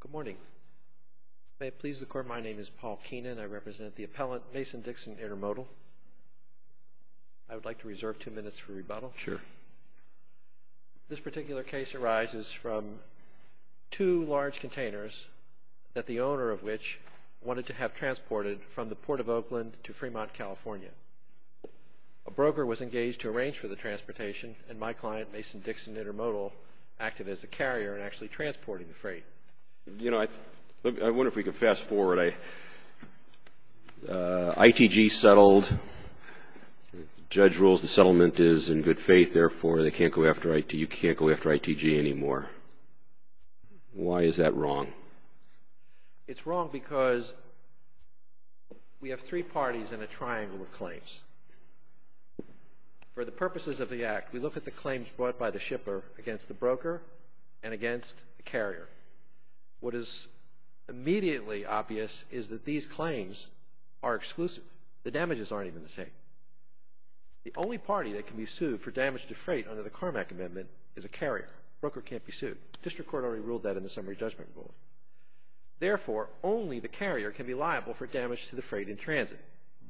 Good morning. May it please the Court, my name is Paul Keenan. I represent the appellant, Mason Dixon Intermodal. I would like to reserve two minutes for rebuttal. Sure. This particular case arises from two large containers that the owner of which wanted to have transported from the Port of Oakland to Fremont, California. A broker was engaged to arrange for the transportation, and my client, Mason Dixon Intermodal, acted as the carrier in actually transporting the freight. You know, I wonder if we could fast forward. ITG settled. The judge rules the settlement is in good faith. Therefore, they can't go after IT. You can't go after ITG anymore. Why is that wrong? It's wrong because we have three parties in a triangle of claims. For the purposes of the Act, we look at the claims brought by the shipper against the broker and against the carrier. What is immediately obvious is that these claims are exclusive. The damages aren't even the same. The only party that can be sued for damage to freight under the Carmack Amendment is a carrier. Broker can't be sued. District Court already ruled that in the Summary Judgment Rule. Therefore, only the carrier can be liable for damage to the freight in transit.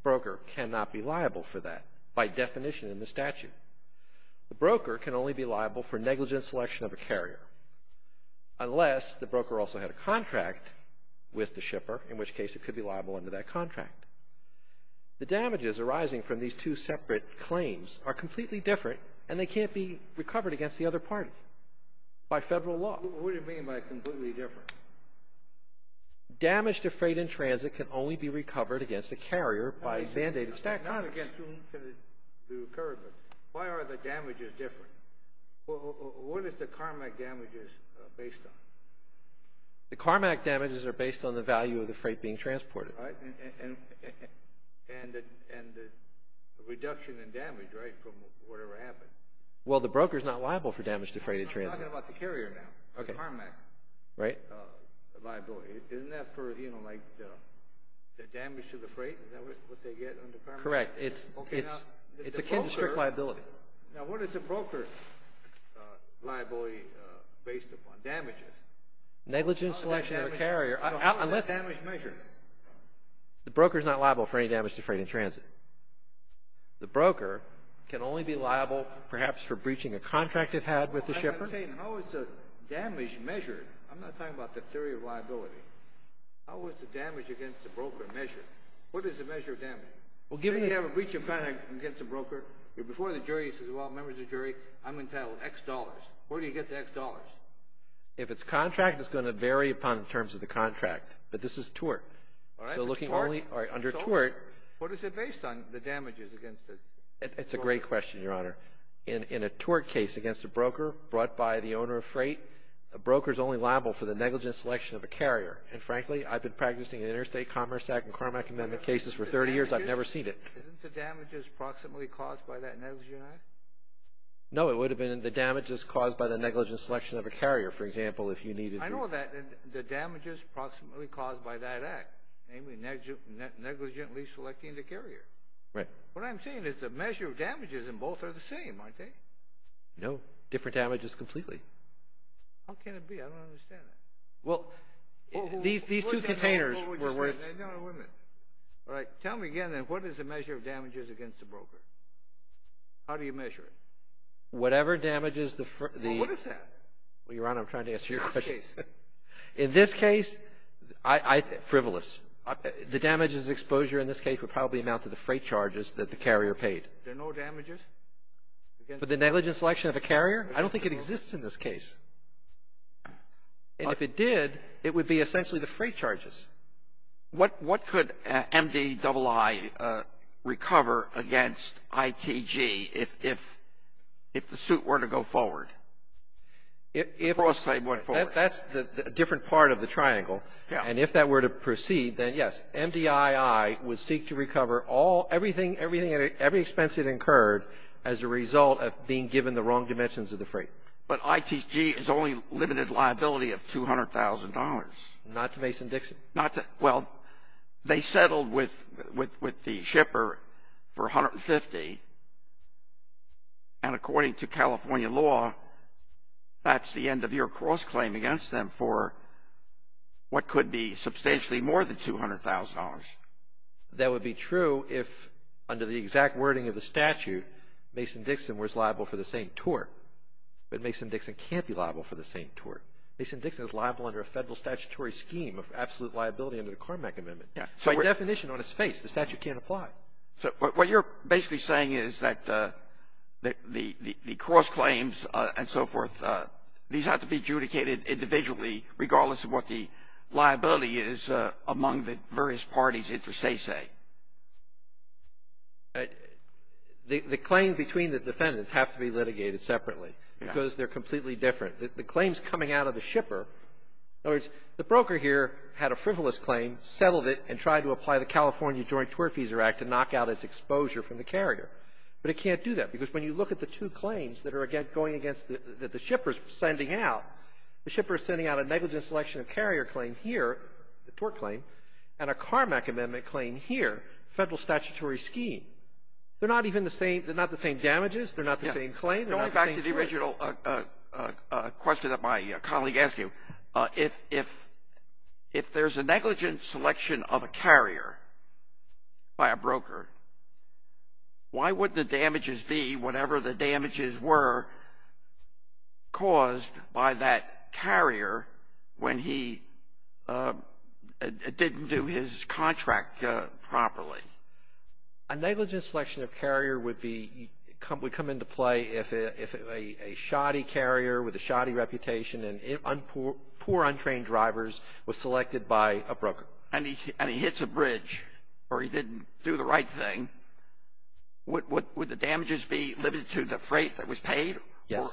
Broker cannot be liable for that by definition in the statute. The broker can only be liable for negligent selection of a carrier unless the broker also had a contract with the shipper, in which case it could be liable under that contract. The damages arising from these two separate claims are completely different, and they can't be recovered against the other party by federal law. What do you mean by completely different? Damage to freight in transit can only be recovered against a carrier by a mandated statute. Not against whom can it be recovered, but why are the damages different? What is the Carmack damages based on? The Carmack damages are based on the value of the freight being transported. And the reduction in damage, right, from whatever happened? Well, the broker is not liable for damage to freight in transit. I'm talking about the carrier now, the Carmack liability. Isn't that for the damage to the freight? Is that what they get under Carmack? Correct. It's akin to strict liability. Now, what is the broker liability based upon? Damages. Negligent selection of a carrier. How is this damage measured? The broker is not liable for any damage to freight in transit. The broker can only be liable, perhaps, for breaching a contract it had with the shipper. How is the damage measured? I'm not talking about the theory of liability. How is the damage against the broker measured? What is the measure of damage? If you have a breach of contract against a broker, you're before the jury, you say, well, members of the jury, I'm entitled to X dollars. Where do you get the X dollars? If it's contract, it's going to vary upon the terms of the contract, but this is tort. All right. So looking only under tort. What is it based on, the damages against the broker? It's a great question, Your Honor. In a tort case against a broker brought by the owner of freight, a broker is only liable for the negligent selection of a carrier. And frankly, I've been practicing the Interstate Commerce Act and Carmack Amendment cases for 30 years. I've never seen it. Isn't the damages proximately caused by that negligent act? No, it would have been the damages caused by the negligent selection of a carrier, for example, if you needed to. I know that. The damages proximately caused by that act, namely negligently selecting the carrier. Right. What I'm saying is the measure of damages in both are the same, aren't they? No, different damages completely. How can it be? I don't understand that. Well, these two containers were worth. All right. Tell me again, then, what is the measure of damages against the broker? How do you measure it? Whatever damages the... Well, what is that? Well, Your Honor, I'm trying to answer your question. In this case... In this case, frivolous. The damages exposure in this case would probably amount to the freight charges that the carrier paid. There are no damages? For the negligent selection of a carrier? I don't think it exists in this case. And if it did, it would be essentially the freight charges. What could MDII recover against ITG if the suit were to go forward? If... The cross-slave went forward. That's a different part of the triangle. Yeah. And if that were to proceed, then, yes, MDII would seek to recover all, everything, every expense it incurred as a result of being given the wrong dimensions of the freight. But ITG is only limited liability of $200,000. Not to Mason Dixon? Not to... Well, they settled with the shipper for $150,000, and according to California law, that's the end-of-year cross-claim against them for what could be substantially more than $200,000. That would be true if, under the exact wording of the statute, Mason Dixon was liable for the same tort. But Mason Dixon can't be liable for the same tort. Mason Dixon is liable under a federal statutory scheme of absolute liability under the Carmack Amendment. By definition, on its face, the statute can't apply. So what you're basically saying is that the cross-claims and so forth, these have to be adjudicated individually regardless of what the liability is among the various parties inter se, say. The claim between the defendants have to be litigated separately because they're completely different. The claims coming out of the shipper, in other words, the broker here had a frivolous claim, settled it, and tried to apply the California Joint Tort Fees Act to knock out its exposure from the carrier. But it can't do that. Because when you look at the two claims that are going against the — that the shipper is sending out, the shipper is sending out a negligent selection of carrier claim here, the tort claim, and a Carmack Amendment claim here, federal statutory scheme. They're not even the same — they're not the same damages. They're not the same claim. They're not the same tort. A question that my colleague asked you. If there's a negligent selection of a carrier by a broker, why would the damages be whatever the damages were caused by that carrier when he didn't do his contract properly? A negligent selection of carrier would be — would come into play if a shoddy carrier with a shoddy reputation and poor, untrained drivers was selected by a broker. And he hits a bridge or he didn't do the right thing, would the damages be limited to the freight that was paid? Yes.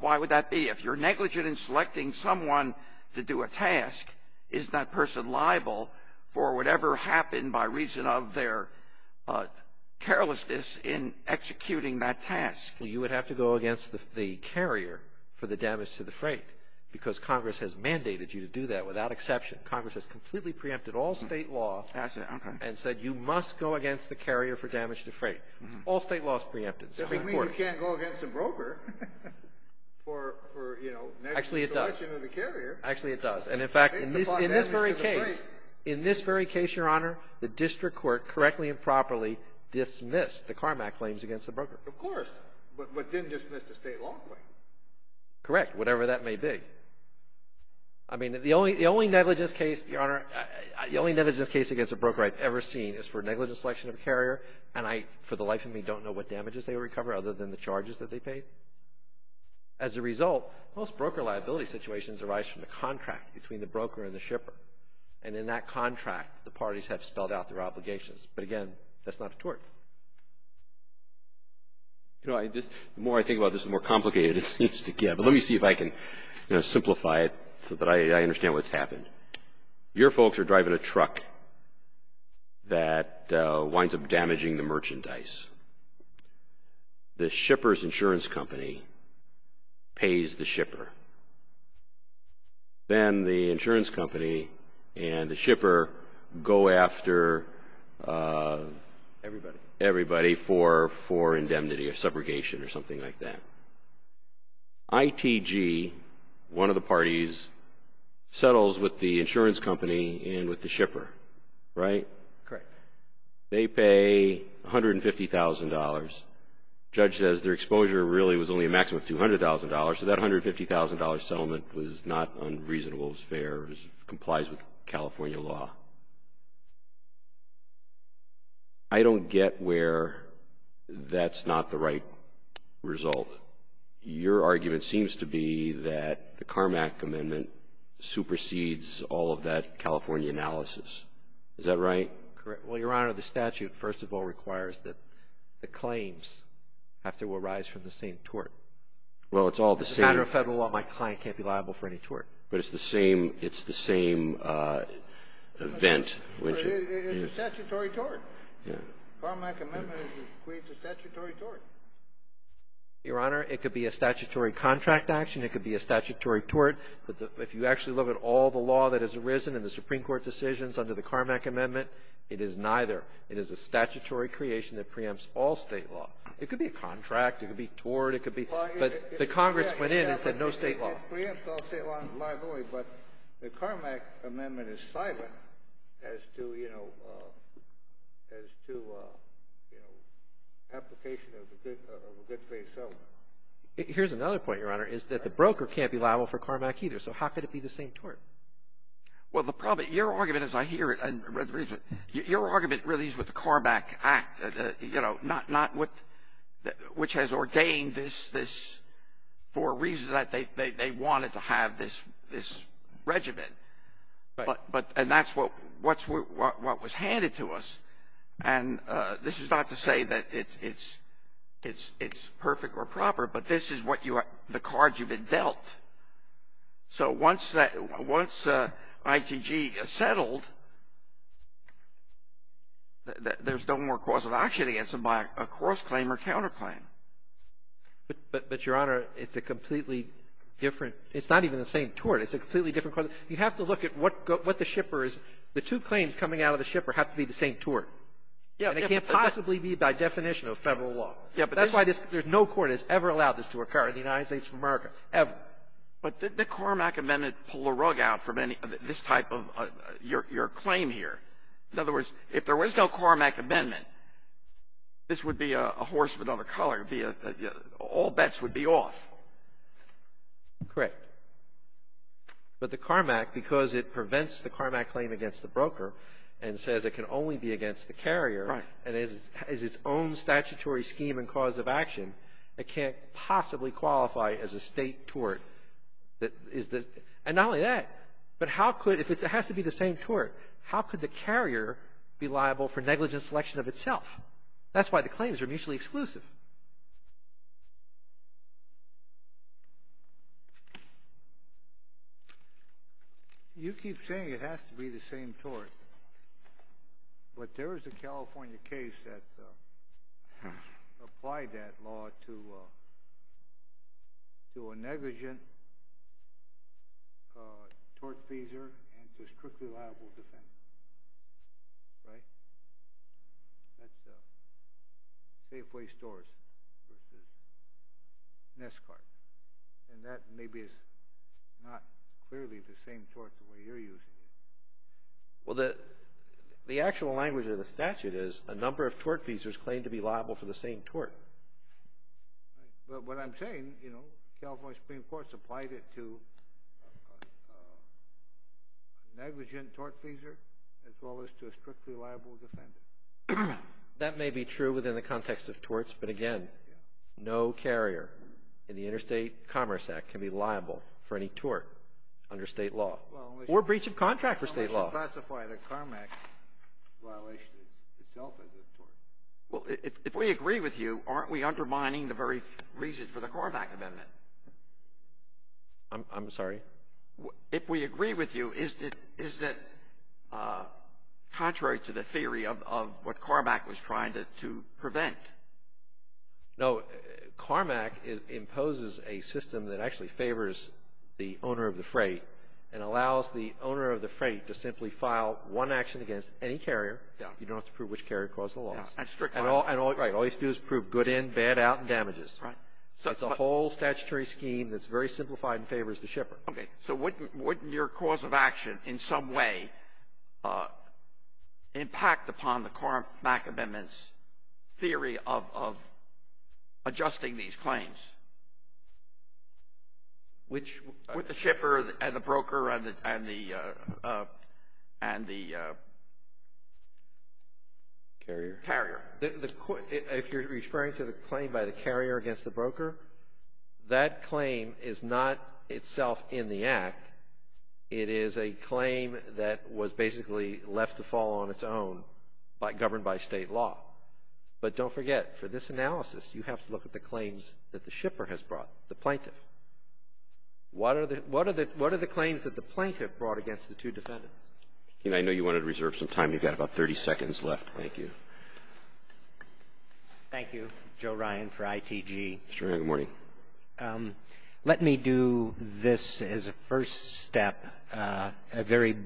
Why would that be? If you're negligent in selecting someone to do a task, is that person liable for whatever happened by reason of their carelessness in executing that task? You would have to go against the carrier for the damage to the freight because Congress has mandated you to do that without exception. Congress has completely preempted all state law and said you must go against the carrier for damage to freight. All state law is preempted. It doesn't mean you can't go against a broker for, you know, negligent selection of the carrier. Actually, it does. Actually, it does. And, in fact, in this very case — in this very case, Your Honor, the district court correctly and properly dismissed the Carmack claims against the broker. Of course, but didn't dismiss the state law claims. Correct, whatever that may be. I mean, the only negligence case, Your Honor, the only negligence case against a broker I've ever seen is for negligent selection of a carrier, and I, for the life of me, don't know what damages they recover other than the charges that they pay. As a result, most broker liability situations arise from the contract between the broker and the shipper. And in that contract, the parties have spelled out their obligations. But, again, that's not a tort. You know, the more I think about this, the more complicated it seems to get. But let me see if I can, you know, simplify it so that I understand what's happened. Your folks are driving a truck that winds up damaging the merchandise. The shipper's insurance company pays the shipper. Then the insurance company and the shipper go after everybody for indemnity or subrogation or something like that. ITG, one of the parties, settles with the insurance company and with the shipper, right? Correct. They pay $150,000. Judge says their exposure really was only a maximum of $200,000, so that $150,000 settlement was not unreasonable. It was fair. It complies with California law. I don't get where that's not the right result. Your argument seems to be that the Carmack Amendment supersedes all of that California analysis. Is that right? Correct. Well, Your Honor, the statute, first of all, requires that the claims have to arise from the same tort. Well, it's all the same. As a matter of federal law, my client can't be liable for any tort. But it's the same event. It's a statutory tort. Carmack Amendment creates a statutory tort. Your Honor, it could be a statutory contract action. It could be a statutory tort. If you actually look at all the law that has arisen in the Supreme Court decisions under the Carmack Amendment, it is neither. It is a statutory creation that preempts all state law. It could be a contract. It could be tort. It could be — but the Congress went in and said no state law. It preempts all state law and is liable. But the Carmack Amendment is silent as to, you know, as to, you know, application of a good-faith settlement. Here's another point, Your Honor, is that the broker can't be liable for Carmack either. So how could it be the same tort? Well, the problem — your argument, as I hear it and read through it, your argument really is with the Carmack Act, you know, which has ordained this for a reason that they wanted to have this regimen. And that's what was handed to us. And this is not to say that it's perfect or proper, but this is what you are — the cards you've been dealt. So once that — once ITG is settled, there's no more cause of action against them by a cross-claim or counterclaim. But, Your Honor, it's a completely different — it's not even the same tort. It's a completely different — you have to look at what the shipper is. The two claims coming out of the shipper have to be the same tort. And it can't possibly be by definition of federal law. Yeah, but this — No court has ever allowed this to occur in the United States of America, ever. But did the Carmack Amendment pull the rug out from any — this type of — your claim here? In other words, if there was no Carmack Amendment, this would be a horseman of a color. All bets would be off. Correct. But the Carmack, because it prevents the Carmack claim against the broker and says it can only be against the carrier — Right. — and has its own statutory scheme and cause of action, it can't possibly qualify as a state tort. And not only that, but how could — if it has to be the same tort, how could the carrier be liable for negligent selection of itself? That's why the claims are mutually exclusive. You keep saying it has to be the same tort. But there is a California case that applied that law to a negligent tort pleaser and to a strictly liable defendant. Right? That's Safeway Stores, which is Neskart. And that maybe is not clearly the same tort the way you're using it. Well, the actual language of the statute is a number of tort pleasers claim to be liable for the same tort. Right. But what I'm saying, you know, California Supreme Court supplied it to a negligent tort pleaser as well as to a strictly liable defendant. That may be true within the context of torts, but again, no carrier in the Interstate Commerce Act can be liable for any tort under state law. Or breach of contract for state law. Well, unless you classify the CARMAC violation itself as a tort. Well, if we agree with you, aren't we undermining the very reason for the CARMAC amendment? I'm sorry? If we agree with you, isn't it contrary to the theory of what CARMAC was trying to prevent? No. CARMAC imposes a system that actually favors the owner of the freight and allows the owner of the freight to simply file one action against any carrier. Yeah. You don't have to prove which carrier caused the loss. Yeah. And all you have to do is prove good in, bad out, and damages. Right. It's a whole statutory scheme that's very simplified and favors the shipper. Okay. So wouldn't your cause of action in some way impact upon the CARMAC amendment's theory of adjusting these claims? Which? With the shipper and the broker and the carrier. Carrier. If you're referring to the claim by the carrier against the broker, that claim is not itself in the Act. It is a claim that was basically left to fall on its own governed by State law. But don't forget, for this analysis, you have to look at the claims that the shipper has brought, the plaintiff. What are the claims that the plaintiff brought against the two defendants? I know you wanted to reserve some time. You've got about 30 seconds left. Thank you. Thank you. Joe Ryan for ITG. Sure. Good morning. Let me do this as a first step, a very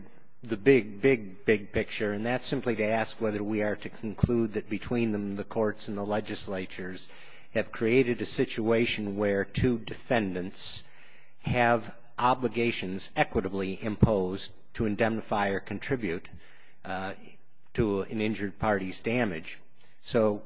big, big, big picture, and that's simply to ask whether we are to conclude that between the courts and the legislatures have created a situation where two defendants have obligations equitably imposed to indemnify or contribute to an injured party's damage. So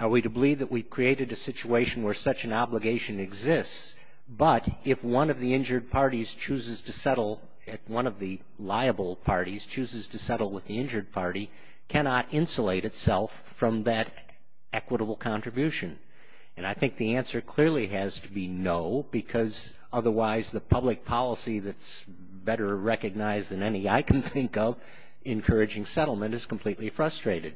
are we to believe that we've created a situation where such an obligation exists, but if one of the injured parties chooses to settle, if one of the liable parties chooses to settle with the injured party, cannot insulate itself from that equitable contribution? And I think the answer clearly has to be no, because otherwise the public policy that's better recognized than any I can think of, encouraging settlement, is completely frustrated.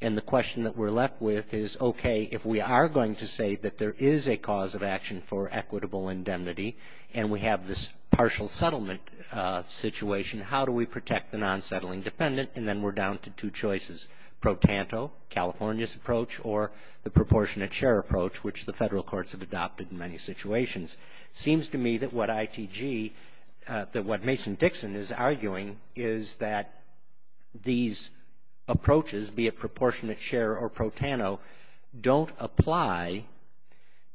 And the question that we're left with is, okay, if we are going to say that there is a cause of action for equitable indemnity and we have this partial settlement situation, how do we protect the non-settling defendant? And then we're down to two choices, pro tanto, California's approach, or the proportionate share approach, which the federal courts have adopted in many situations. It seems to me that what ITG, that what Mason Dixon is arguing, is that these approaches, be it proportionate share or pro tanto, don't apply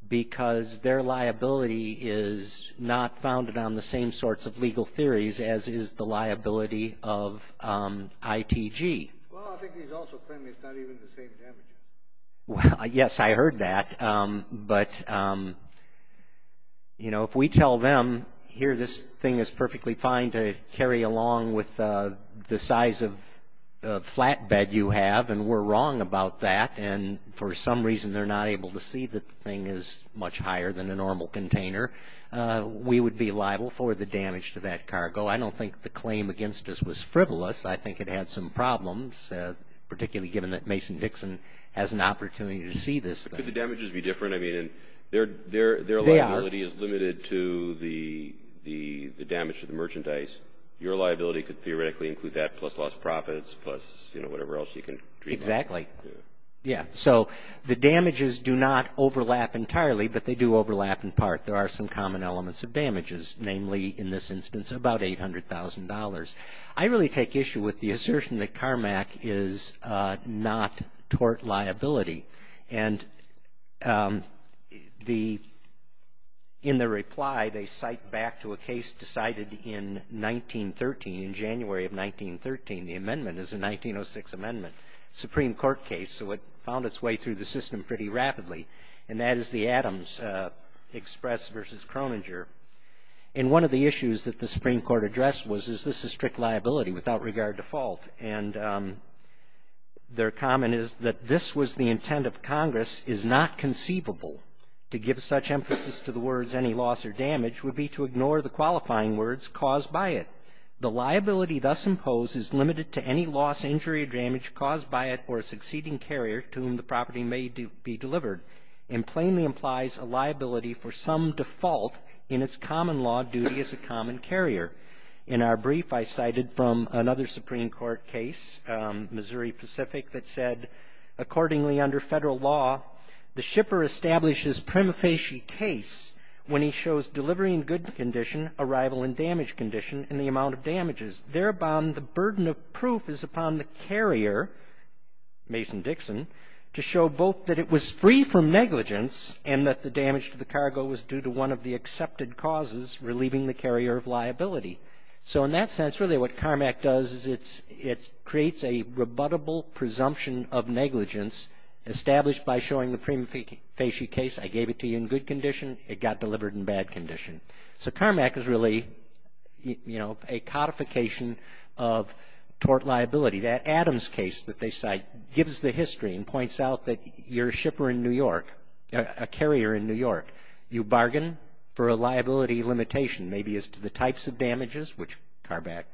because their liability is not founded on the same sorts of legal theories as is the liability of ITG. Well, I think he's also claiming it's not even the same damages. Well, yes, I heard that, but, you know, if we tell them, here this thing is perfectly fine to carry along with the size of flatbed you have and we're wrong about that and for some reason they're not able to see that the thing is much higher than a normal container, we would be liable for the damage to that cargo. I don't think the claim against us was frivolous. I think it had some problems, particularly given that Mason Dixon has an opportunity to see this. Could the damages be different? I mean, their liability is limited to the damage to the merchandise. Your liability could theoretically include that plus lost profits plus, you know, whatever else you can dream up. Exactly. Yeah, so the damages do not overlap entirely, but they do overlap in part. There are some common elements of damages, namely in this instance about $800,000. I really take issue with the assertion that CARMAC is not tort liability, and in their reply they cite back to a case decided in 1913, in January of 1913. The amendment is a 1906 amendment, Supreme Court case, so it found its way through the system pretty rapidly, and that is the Adams Express versus Croninger. And one of the issues that the Supreme Court addressed was, is this a strict liability without regard to fault? And their comment is that this was the intent of Congress, is not conceivable to give such emphasis to the words any loss or damage, would be to ignore the qualifying words caused by it. The liability thus imposed is limited to any loss, injury, or damage caused by it for a succeeding carrier to whom the property may be delivered, and plainly implies a liability for some default in its common law duty as a common carrier. In our brief, I cited from another Supreme Court case, Missouri Pacific, that said accordingly under federal law, the shipper establishes prima facie case when he shows delivery in good condition, arrival in damaged condition, and the amount of damages. Thereupon, the burden of proof is upon the carrier, Mason Dixon, to show both that it was free from negligence, and that the damage to the cargo was due to one of the accepted causes, relieving the carrier of liability. So in that sense, really what CARMAC does is it creates a rebuttable presumption of negligence, established by showing the prima facie case, I gave it to you in good condition, it got delivered in bad condition. So CARMAC is really, you know, a codification of tort liability. That Adams case that they cite gives the history and points out that your shipper in New York, a carrier in New York, you bargain for a liability limitation, maybe as to the types of damages, which CARMAC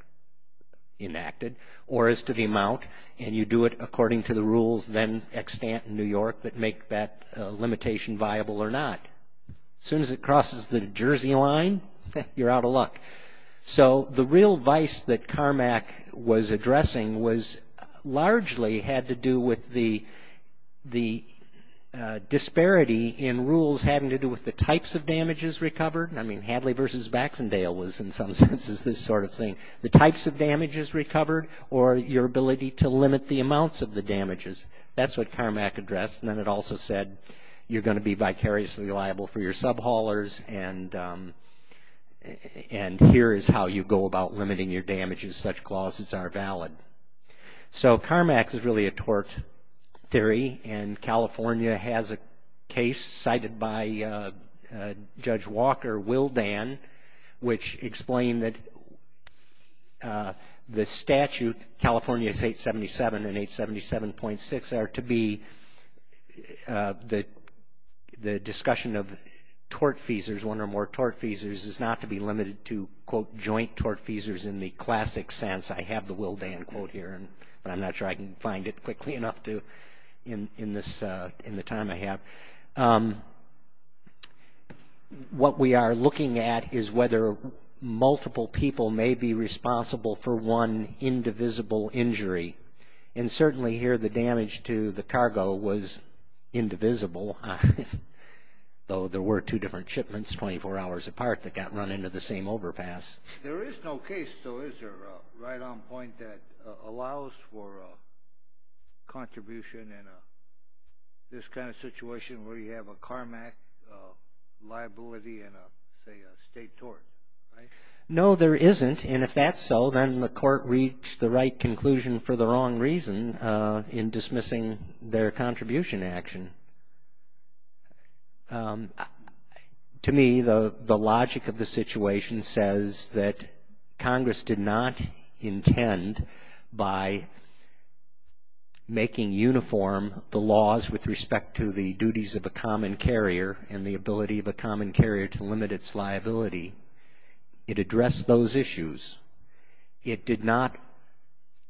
enacted, or as to the amount, and you do it according to the rules then extant in New York that make that limitation viable or not. As soon as it crosses the Jersey line, you're out of luck. So the real vice that CARMAC was addressing was largely had to do with the disparity in rules having to do with the types of damages recovered. I mean, Hadley versus Baxendale was in some senses this sort of thing. The types of damages recovered or your ability to limit the amounts of the damages. That's what CARMAC addressed. And then it also said you're going to be vicariously liable for your sub-haulers and here is how you go about limiting your damages. Such clauses are valid. So CARMAC is really a tort theory, and California has a case cited by Judge Walker, Will Dan, which explained that the statute, California's 877 and 877.6, are to be the discussion of tortfeasors, one or more tortfeasors, is not to be limited to, quote, joint tortfeasors in the classic sense. I have the Will Dan quote here, but I'm not sure I can find it quickly enough in the time I have. What we are looking at is whether multiple people may be responsible for one indivisible injury. And certainly here the damage to the cargo was indivisible, though there were two different shipments 24 hours apart that got run into the same overpass. There is no case, though, is there, right on point, that allows for a contribution in this kind of situation where you have a CARMAC liability and, say, a state tort, right? No, there isn't, and if that's so, then the court reached the right conclusion for the wrong reason in dismissing their contribution action. To me, the logic of the situation says that Congress did not intend by making uniform the laws with respect to the duties of a common carrier and the ability of a common carrier to limit its liability. It addressed those issues. It did not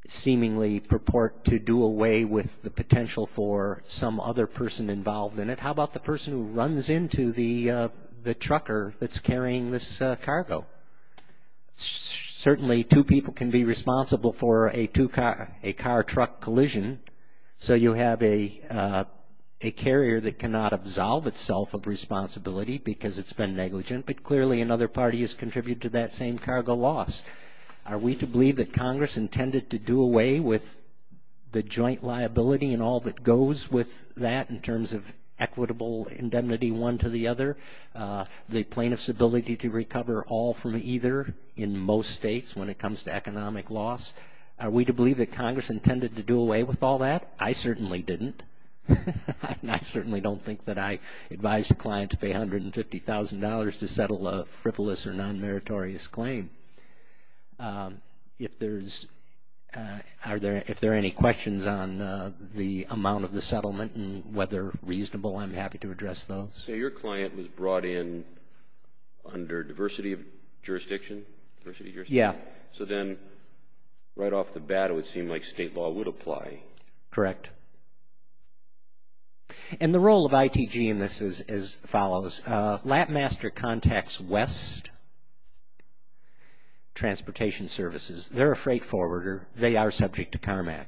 seemingly purport to do away with the potential for some other person involved in it. How about the person who runs into the trucker that's carrying this cargo? Certainly two people can be responsible for a two-car, a car-truck collision, so you have a carrier that cannot absolve itself of responsibility because it's been negligent, but clearly another party has contributed to that same cargo loss. Are we to believe that Congress intended to do away with the joint liability and all that goes with that in terms of equitable indemnity one to the other, the plaintiff's ability to recover all from either in most states when it comes to economic loss? Are we to believe that Congress intended to do away with all that? I certainly didn't, and I certainly don't think that I advised a client to pay $150,000 to settle a frivolous or non-meritorious claim. If there are any questions on the amount of the settlement and whether reasonable, I'm happy to address those. So your client was brought in under diversity of jurisdiction? Yeah. So then right off the bat it would seem like state law would apply. Correct. And the role of ITG in this is as follows. Lapmaster contacts West Transportation Services. They're a freight forwarder. They are subject to CARMAC.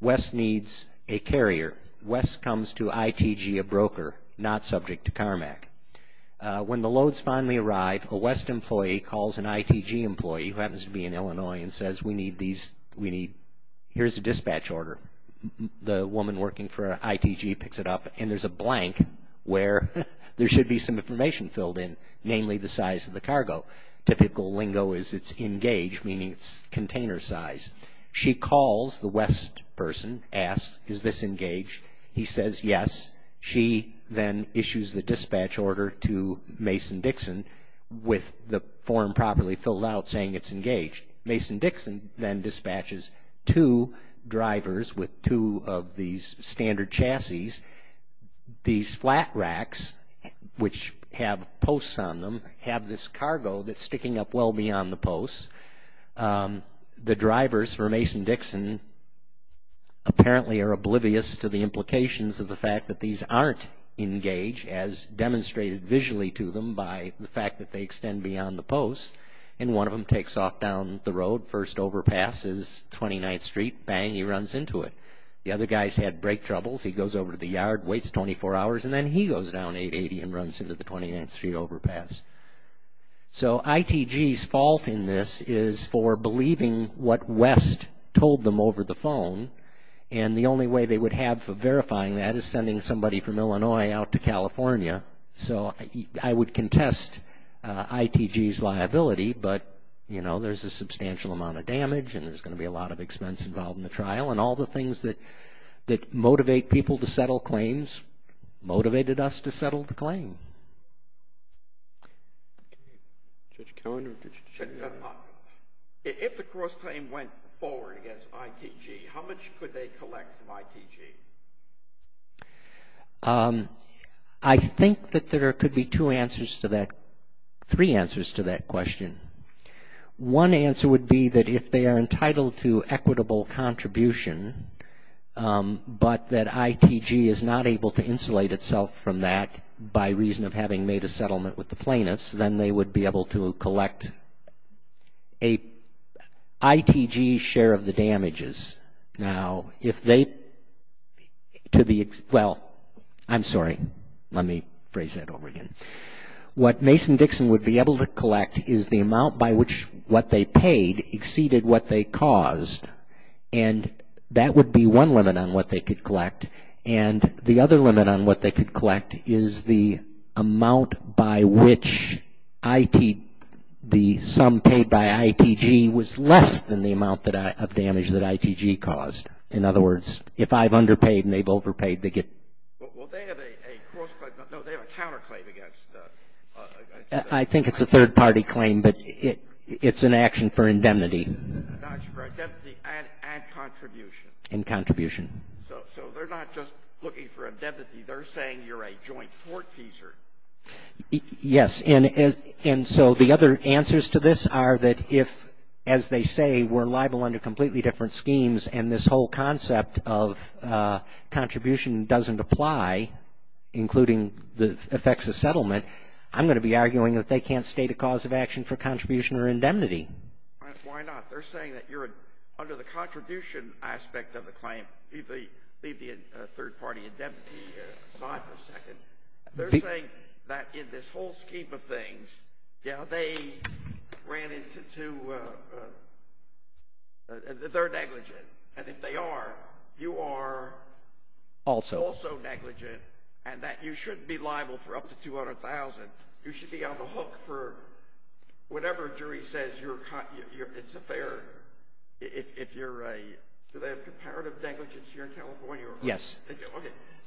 West needs a carrier. West comes to ITG a broker not subject to CARMAC. When the loads finally arrive, a West employee calls an ITG employee who happens to be in Illinois and says we need these, we need, here's a dispatch order. The woman working for ITG picks it up, and there's a blank where there should be some information filled in, namely the size of the cargo. Typical lingo is it's engaged, meaning it's container size. She calls the West person, asks is this engaged. He says yes. She then issues the dispatch order to Mason Dixon with the form properly filled out saying it's engaged. Mason Dixon then dispatches two drivers with two of these standard chassis. These flat racks, which have posts on them, have this cargo that's sticking up well beyond the posts. The drivers for Mason Dixon apparently are oblivious to the implications of the fact that these aren't engaged as demonstrated visually to them by the fact that they extend beyond the posts, and one of them takes off down the road. First overpass is 29th Street. Bang, he runs into it. The other guy's had brake troubles. He goes over to the yard, waits 24 hours, and then he goes down 880 and runs into the 29th Street overpass. So ITG's fault in this is for believing what West told them over the phone, and the only way they would have for verifying that is sending somebody from Illinois out to California. So I would contest ITG's liability, but, you know, there's a substantial amount of damage and there's going to be a lot of expense involved in the trial, and all the things that motivate people to settle claims motivated us to settle the claim. Judge Cohen or Judge Dunlop, if the cross-claim went forward against ITG, how much could they collect from ITG? I think that there could be two answers to that, three answers to that question. One answer would be that if they are entitled to equitable contribution, but that ITG is not able to insulate itself from that by reason of having made a settlement with the plaintiffs, then they would be able to collect ITG's share of the damages. Now, if they, to the, well, I'm sorry, let me phrase that over again. What Mason-Dixon would be able to collect is the amount by which what they paid exceeded what they caused, and that would be one limit on what they could collect, and the other limit on what they could collect is the amount by which the sum paid by ITG was less than the amount of damage that ITG caused. In other words, if I've underpaid and they've overpaid, they get. Well, they have a cross-claim, no, they have a counterclaim against ITG. I think it's a third-party claim, but it's an action for indemnity. An action for indemnity and contribution. And contribution. So they're not just looking for indemnity. They're saying you're a joint court teaser. Yes, and so the other answers to this are that if, as they say, we're liable under completely different schemes and this whole concept of contribution doesn't apply, including the effects of settlement, I'm going to be arguing that they can't state a cause of action for contribution or indemnity. Why not? They're saying that you're under the contribution aspect of the claim. Leave the third-party indemnity aside for a second. They're saying that in this whole scheme of things, you know, they ran into two—they're negligent. And if they are, you are also negligent and that you shouldn't be liable for up to $200,000. You should be on the hook for whatever jury says you're—it's a fair—if you're a— do they have comparative negligence here in California? Yes. Okay.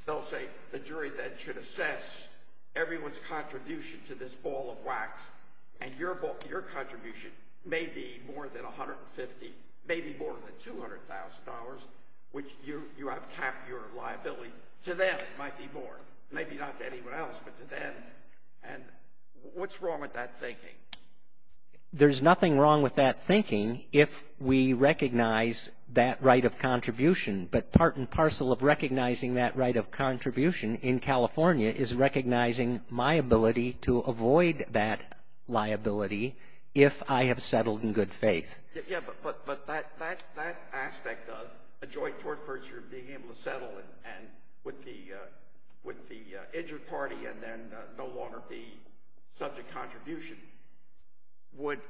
They'll say the jury then should assess everyone's contribution to this ball of wax and your contribution may be more than $150,000, may be more than $200,000, which you have capped your liability. To them, it might be more. Maybe not to anyone else, but to them. And what's wrong with that thinking? There's nothing wrong with that thinking if we recognize that right of contribution. But part and parcel of recognizing that right of contribution in California is recognizing my ability to avoid that liability if I have settled in good faith. Yeah, but that aspect of a joint tort procedure being able to settle and with the injured party and then no longer be subject contribution would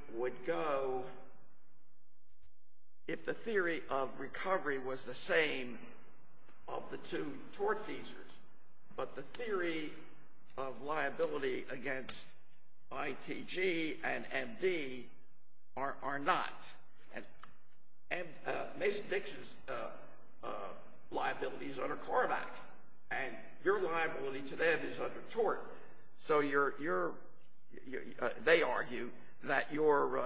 go— if the theory of recovery was the same of the two tort cases, but the theory of liability against ITG and MD are not. Mason Dixon's liability is under CARBAC, and your liability to them is under tort. So they argue that you're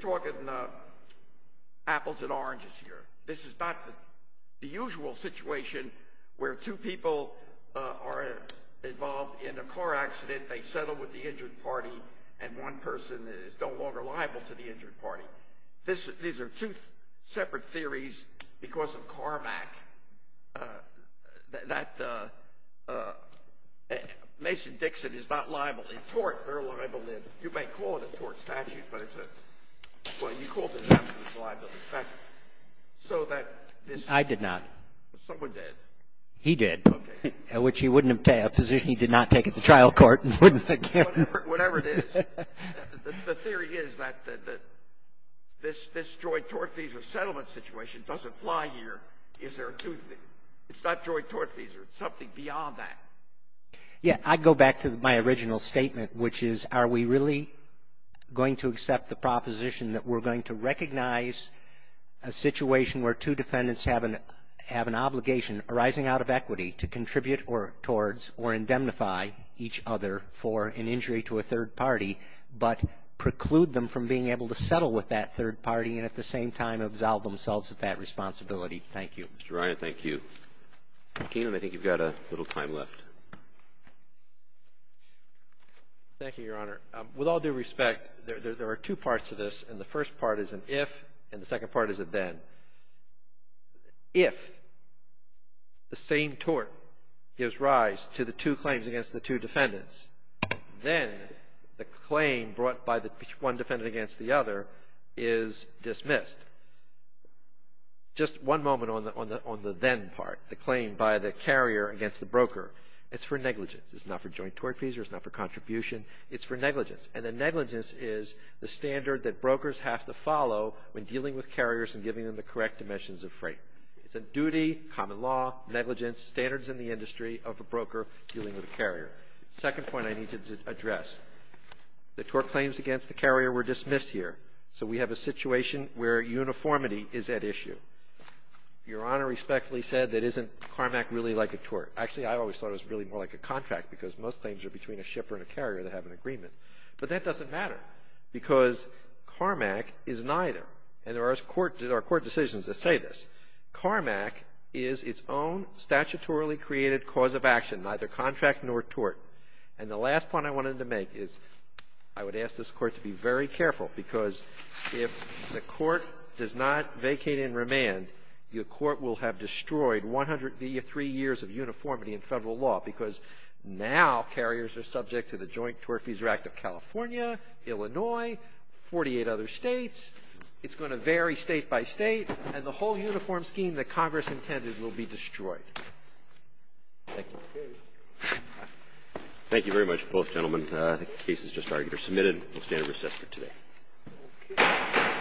talking apples and oranges here. This is not the usual situation where two people are involved in a car accident, they settle with the injured party, and one person is no longer liable to the injured party. These are two separate theories because of CARBAC. Mason Dixon is not liable in tort. They're liable in—you may call it a tort statute, but it's a—well, you called it a liability statute. I did not. Someone did. He did, which he wouldn't—a position he did not take at the trial court. Whatever it is, the theory is that this joint tort visa settlement situation doesn't fly here. It's not joint tort visa. It's something beyond that. Yeah. I go back to my original statement, which is are we really going to accept the proposition that we're going to recognize a situation where two defendants have an obligation arising out of equity to contribute towards or indemnify each other for an injury to a third party, but preclude them from being able to settle with that third party and at the same time absolve themselves of that responsibility? Thank you. Mr. Ryan, thank you. Keenum, I think you've got a little time left. Thank you, Your Honor. With all due respect, there are two parts to this, and the first part is an if and the second part is a then. If the same tort gives rise to the two claims against the two defendants, then the claim brought by one defendant against the other is dismissed. Just one moment on the then part, the claim by the carrier against the broker. It's for negligence. It's not for joint tort visa. It's not for contribution. It's for negligence, and the negligence is the standard that brokers have to follow when dealing with carriers and giving them the correct dimensions of freight. It's a duty, common law, negligence, standards in the industry of a broker dealing with a carrier. The second point I need to address, the tort claims against the carrier were dismissed here, so we have a situation where uniformity is at issue. Your Honor respectfully said that isn't CARMAC really like a tort. Actually, I always thought it was really more like a contract because most claims are between a shipper and a carrier that have an agreement, but that doesn't matter because CARMAC is neither, and there are court decisions that say this. CARMAC is its own statutorily created cause of action, neither contract nor tort, and the last point I wanted to make is I would ask this Court to be very careful because if the Court does not vacate and remand, the Court will have destroyed 103 years of uniformity in Federal law because now carriers are subject to the Joint Tort Fees Act of California, Illinois, 48 other states. It's going to vary state by state, and the whole uniform scheme that Congress intended will be destroyed. Thank you. Thank you very much, both gentlemen. The case is just argued or submitted. We'll stand at recess for today.